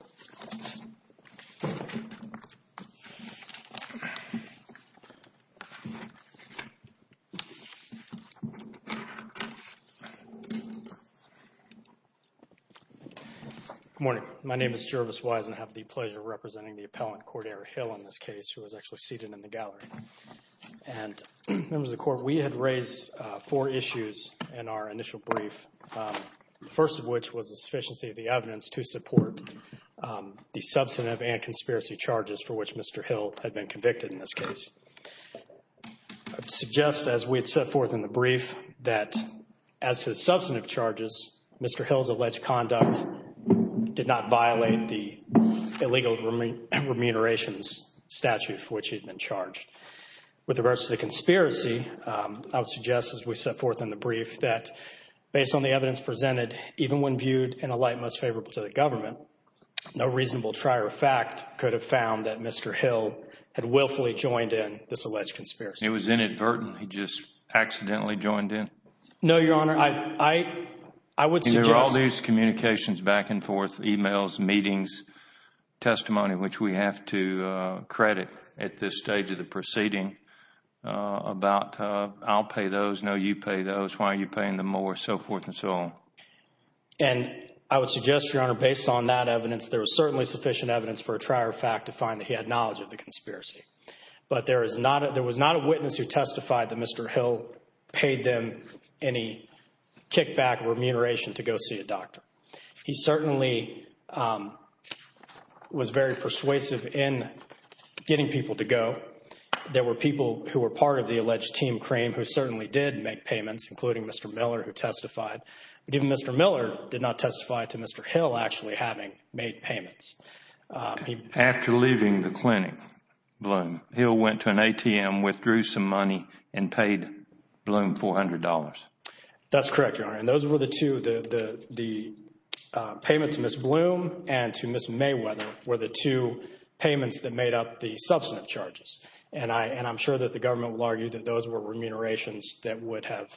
Good morning. My name is Jervis Wise and I have the pleasure of representing the appellant Cordera Hill in this case who is actually seated in the gallery. Members of the Court, we had raised four issues in our initial brief, the first of which was the sufficiency of the evidence to support the substantive and conspiracy charges for which Mr. Hill had been convicted in this case. I would suggest as we had set forth in the brief that as to the substantive charges, Mr. Hill's alleged conduct did not violate the illegal remunerations statute for which he had been charged. With regards to the conspiracy, I would suggest as we set forth in the brief that based on the evidence presented, even when viewed in the light most favorable to the government, no reasonable trier of fact could have found that Mr. Hill had willfully joined in this alleged conspiracy. It was inadvertent. He just accidentally joined in. No, Your Honor. I would suggest There are all these communications back and forth, emails, meetings, testimony which we have to credit at this stage of the proceeding about I'll pay those, no, you pay those, why are you paying them more, so forth and so on. And I would suggest, Your Honor, based on that evidence, there was certainly sufficient evidence for a trier of fact to find that he had knowledge of the conspiracy. But there was not a witness who testified that Mr. Hill paid them any kickback or remuneration to go see a doctor. He certainly was very persuasive in getting people to go. There were people who were part of the alleged team cream who certainly did make payments, including Mr. Miller who testified. But even Mr. Miller did not testify to Mr. Hill actually having made payments. After leaving the clinic, Bloom, Hill went to an ATM, withdrew some money and paid Bloom $400. That's correct, Your Honor. And those were the two, the payment to Ms. Bloom and to Ms. Mayweather were the two payments that made up the substantive charges. And I'm sure that the government will argue that those were remunerations that would have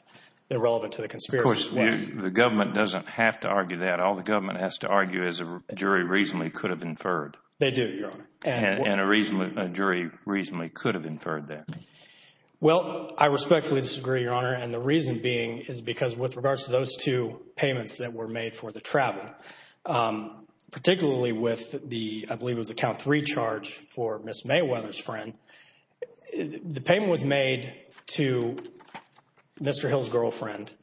been relevant to the conspiracy. Of course, the government doesn't have to argue that. All the government has to argue is a jury reasonably could have inferred. They do, Your Honor. And a jury reasonably could have inferred that. Well, I respectfully disagree, Your Honor, and the reason being is because with regards The claim was made to Mr. Hill's girlfriend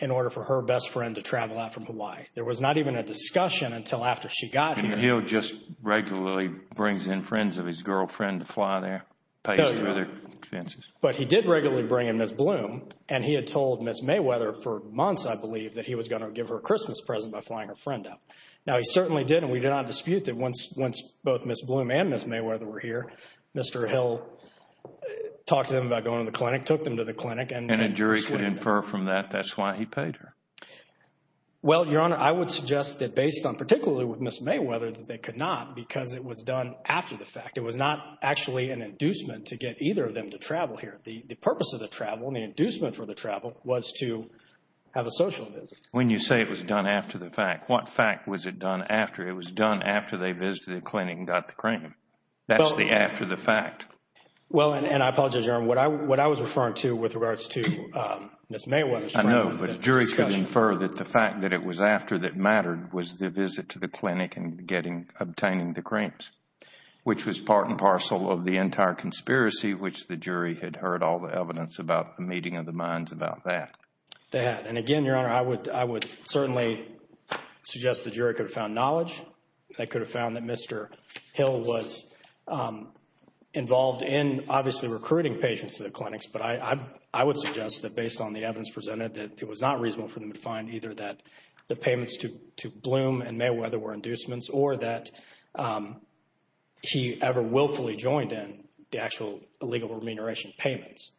in order for her best friend to travel out from Hawaii. There was not even a discussion until after she got here. And Hill just regularly brings in friends of his girlfriend to fly there, pays for their expenses. But he did regularly bring in Ms. Bloom and he had told Ms. Mayweather for months, I believe, that he was going to give her a Christmas present by flying her friend out. Now he certainly did and we do not dispute that once both Ms. Bloom and Ms. Mayweather were here. Mr. Hill talked to them about going to the clinic, took them to the clinic, and then persuaded them. And a jury could infer from that that's why he paid her. Well, Your Honor, I would suggest that based on particularly with Ms. Mayweather that they could not because it was done after the fact. It was not actually an inducement to get either of them to travel here. The purpose of the travel and the inducement for the travel was to have a social visit. When you say it was done after the fact, what fact was it done after? It was done after they visited the clinic and got the cream. That's the after the fact. Well, and I apologize, Your Honor, what I was referring to with regards to Ms. Mayweather was the discussion. I know, but the jury could infer that the fact that it was after that mattered was the visit to the clinic and obtaining the creams, which was part and parcel of the entire conspiracy which the jury had heard all the evidence about the meeting of the minds about that. They had. And, again, Your Honor, I would certainly suggest the jury could have found knowledge. They could have found that Mr. Hill was involved in, obviously, recruiting patients to the clinics, but I would suggest that based on the evidence presented that it was not reasonable for them to find either that the payments to Bloom and Mayweather were inducements or that he ever willfully joined in the actual illegal remuneration payments.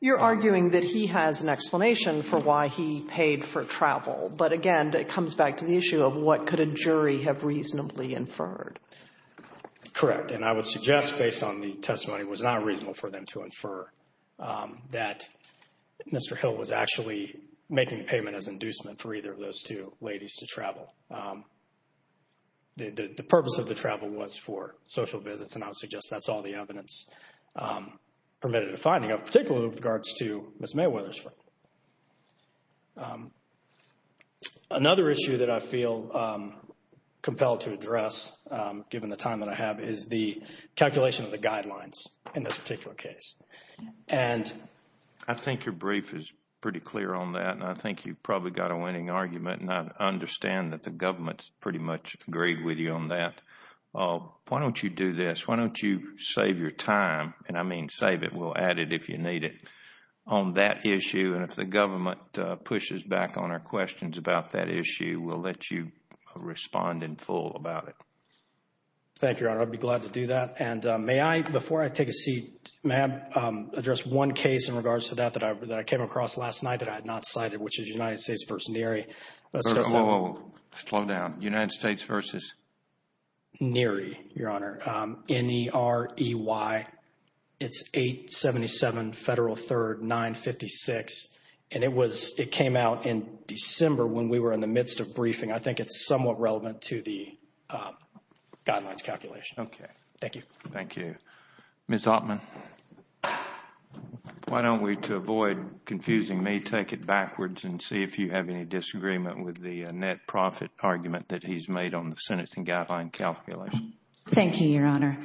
You're arguing that he has an explanation for why he paid for travel. But, again, it comes back to the issue of what could a jury have reasonably inferred. Correct. And I would suggest based on the testimony, it was not reasonable for them to infer that Mr. Hill was actually making payment as inducement for either of those two ladies to travel. The purpose of the travel was for social visits, and I would suggest that's all the evidence permitted a finding of, particularly with regards to Ms. Mayweather's. Another issue that I feel compelled to address, given the time that I have, is the calculation of the guidelines in this particular case. And I think your brief is pretty clear on that, and I think you've probably got a winning argument and I understand that the government's pretty much agreed with you on that. Why don't you do this? Why don't you save your time? And I mean save it. We'll add it if you need it on that issue, and if the government pushes back on our questions about that issue, we'll let you respond in full about it. Thank you, Your Honor. I'd be glad to do that. And may I, before I take a seat, may I address one case in regards to that that I came across last night that I had not cited, which is United States v. Neary. Whoa, whoa, whoa, slow down. United States v. Neary, Your Honor. N-E-R-E-Y, it's 877 Federal 3rd 956, and it was, it came out in December when we were in the midst of briefing. I think it's somewhat relevant to the guidelines calculation. Okay. Thank you. Thank you. Ms. Altman, why don't we, to avoid confusing me, take it backwards and see if you have any disagreement with the net profit argument that he's made on the sentencing guideline calculation. Thank you, Your Honor.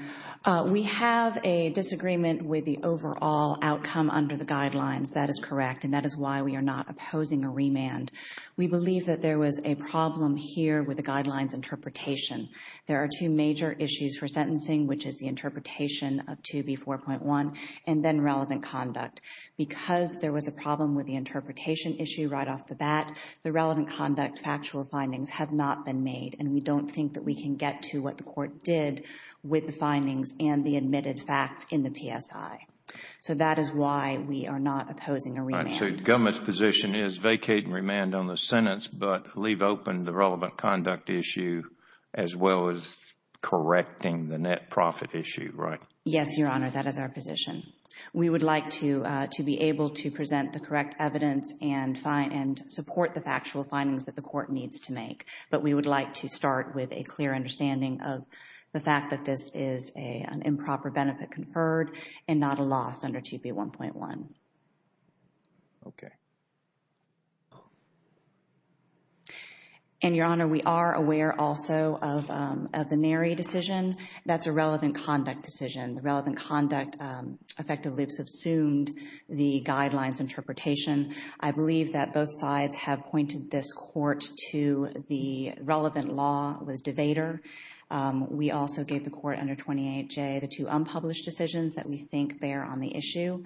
We have a disagreement with the overall outcome under the guidelines. That is correct, and that is why we are not opposing a remand. We believe that there was a problem here with the guidelines interpretation. There are two major issues for sentencing, which is the interpretation of 2B4.1, and then relevant conduct. Because there was a problem with the interpretation issue right off the bat, the relevant conduct factual findings have not been made, and we don't think that we can get to what the court did with the findings and the admitted facts in the PSI. So that is why we are not opposing a remand. All right. So the government's position is vacate and remand on the sentence, but leave open the relevant conduct issue as well as correcting the net profit issue, right? Yes, Your Honor. That is our position. We would like to be able to present the correct evidence and support the factual findings that the court needs to make. But we would like to start with a clear understanding of the fact that this is an improper benefit conferred and not a loss under 2B1.1. Okay. And, Your Honor, we are aware also of the Nary decision. That's a relevant conduct decision. The relevant conduct effective loops have assumed the guidelines interpretation. I believe that both sides have pointed this court to the relevant law with DeVater. We also gave the court under 28J the two unpublished decisions that we think bear on the issue.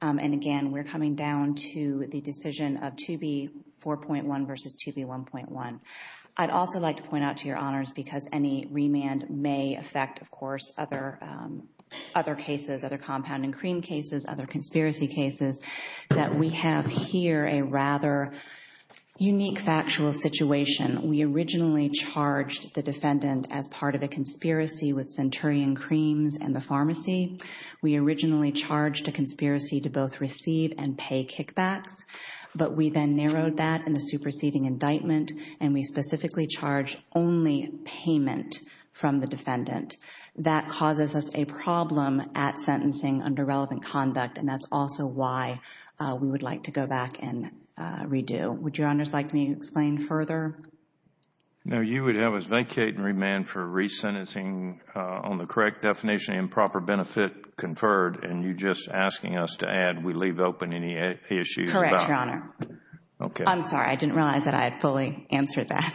And again, we're coming down to the decision of 2B4.1 versus 2B1.1. I'd also like to point out to Your Honors, because any remand may affect, of course, other cases, other compound and cream cases, other conspiracy cases, that we have here a rather unique factual situation. We originally charged the defendant as part of a conspiracy with Centurion Creams and the pharmacy. We originally charged a conspiracy to both receive and pay kickbacks. But we then narrowed that in the superseding indictment, and we specifically charged only payment from the defendant. That causes us a problem at sentencing under relevant conduct, and that's also why we would like to go back and redo. Would Your Honors like me to explain further? No, you would have us vacate and remand for resentencing on the correct definition, improper benefit conferred, and you're just asking us to add, we leave open any issues. Correct, Your Honor. Okay. I'm sorry. I didn't realize that I had fully answered that.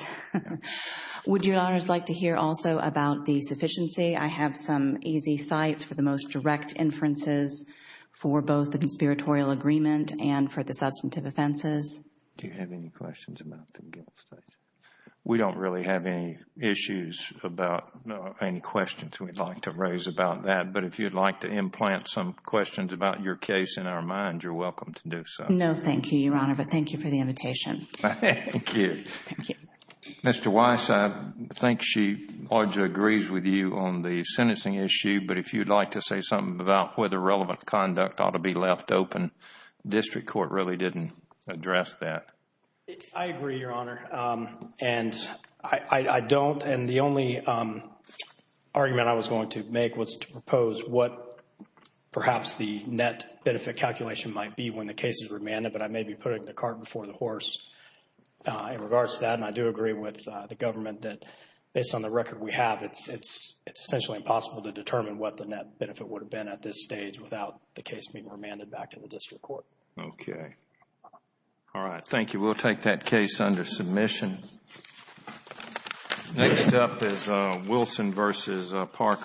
Would Your Honors like to hear also about the sufficiency? I have some easy sites for the most direct inferences for both the conspiratorial agreement and for the substantive offenses. Do you have any questions about the guilt statement? We don't really have any issues about, no, any questions we'd like to raise about that, but if you'd like to implant some questions about your case in our mind, you're welcome to do so. No, thank you, Your Honor, but thank you for the invitation. Thank you. Thank you. Mr. Weiss, I think she largely agrees with you on the sentencing issue, but if you'd like to say something about whether relevant conduct ought to be left open, district court really didn't address that. I agree, Your Honor, and I don't, and the only argument I was going to make was to propose what perhaps the net benefit calculation might be when the case is remanded, but I may be putting the cart before the horse in regards to that, and I do agree with the government that based on the record we have, it's essentially impossible to determine what the net benefit would have been at this stage without the case being remanded back to the district court. Okay. All right. Thank you. We'll take that case under submission. Next up is Wilson v. Parker.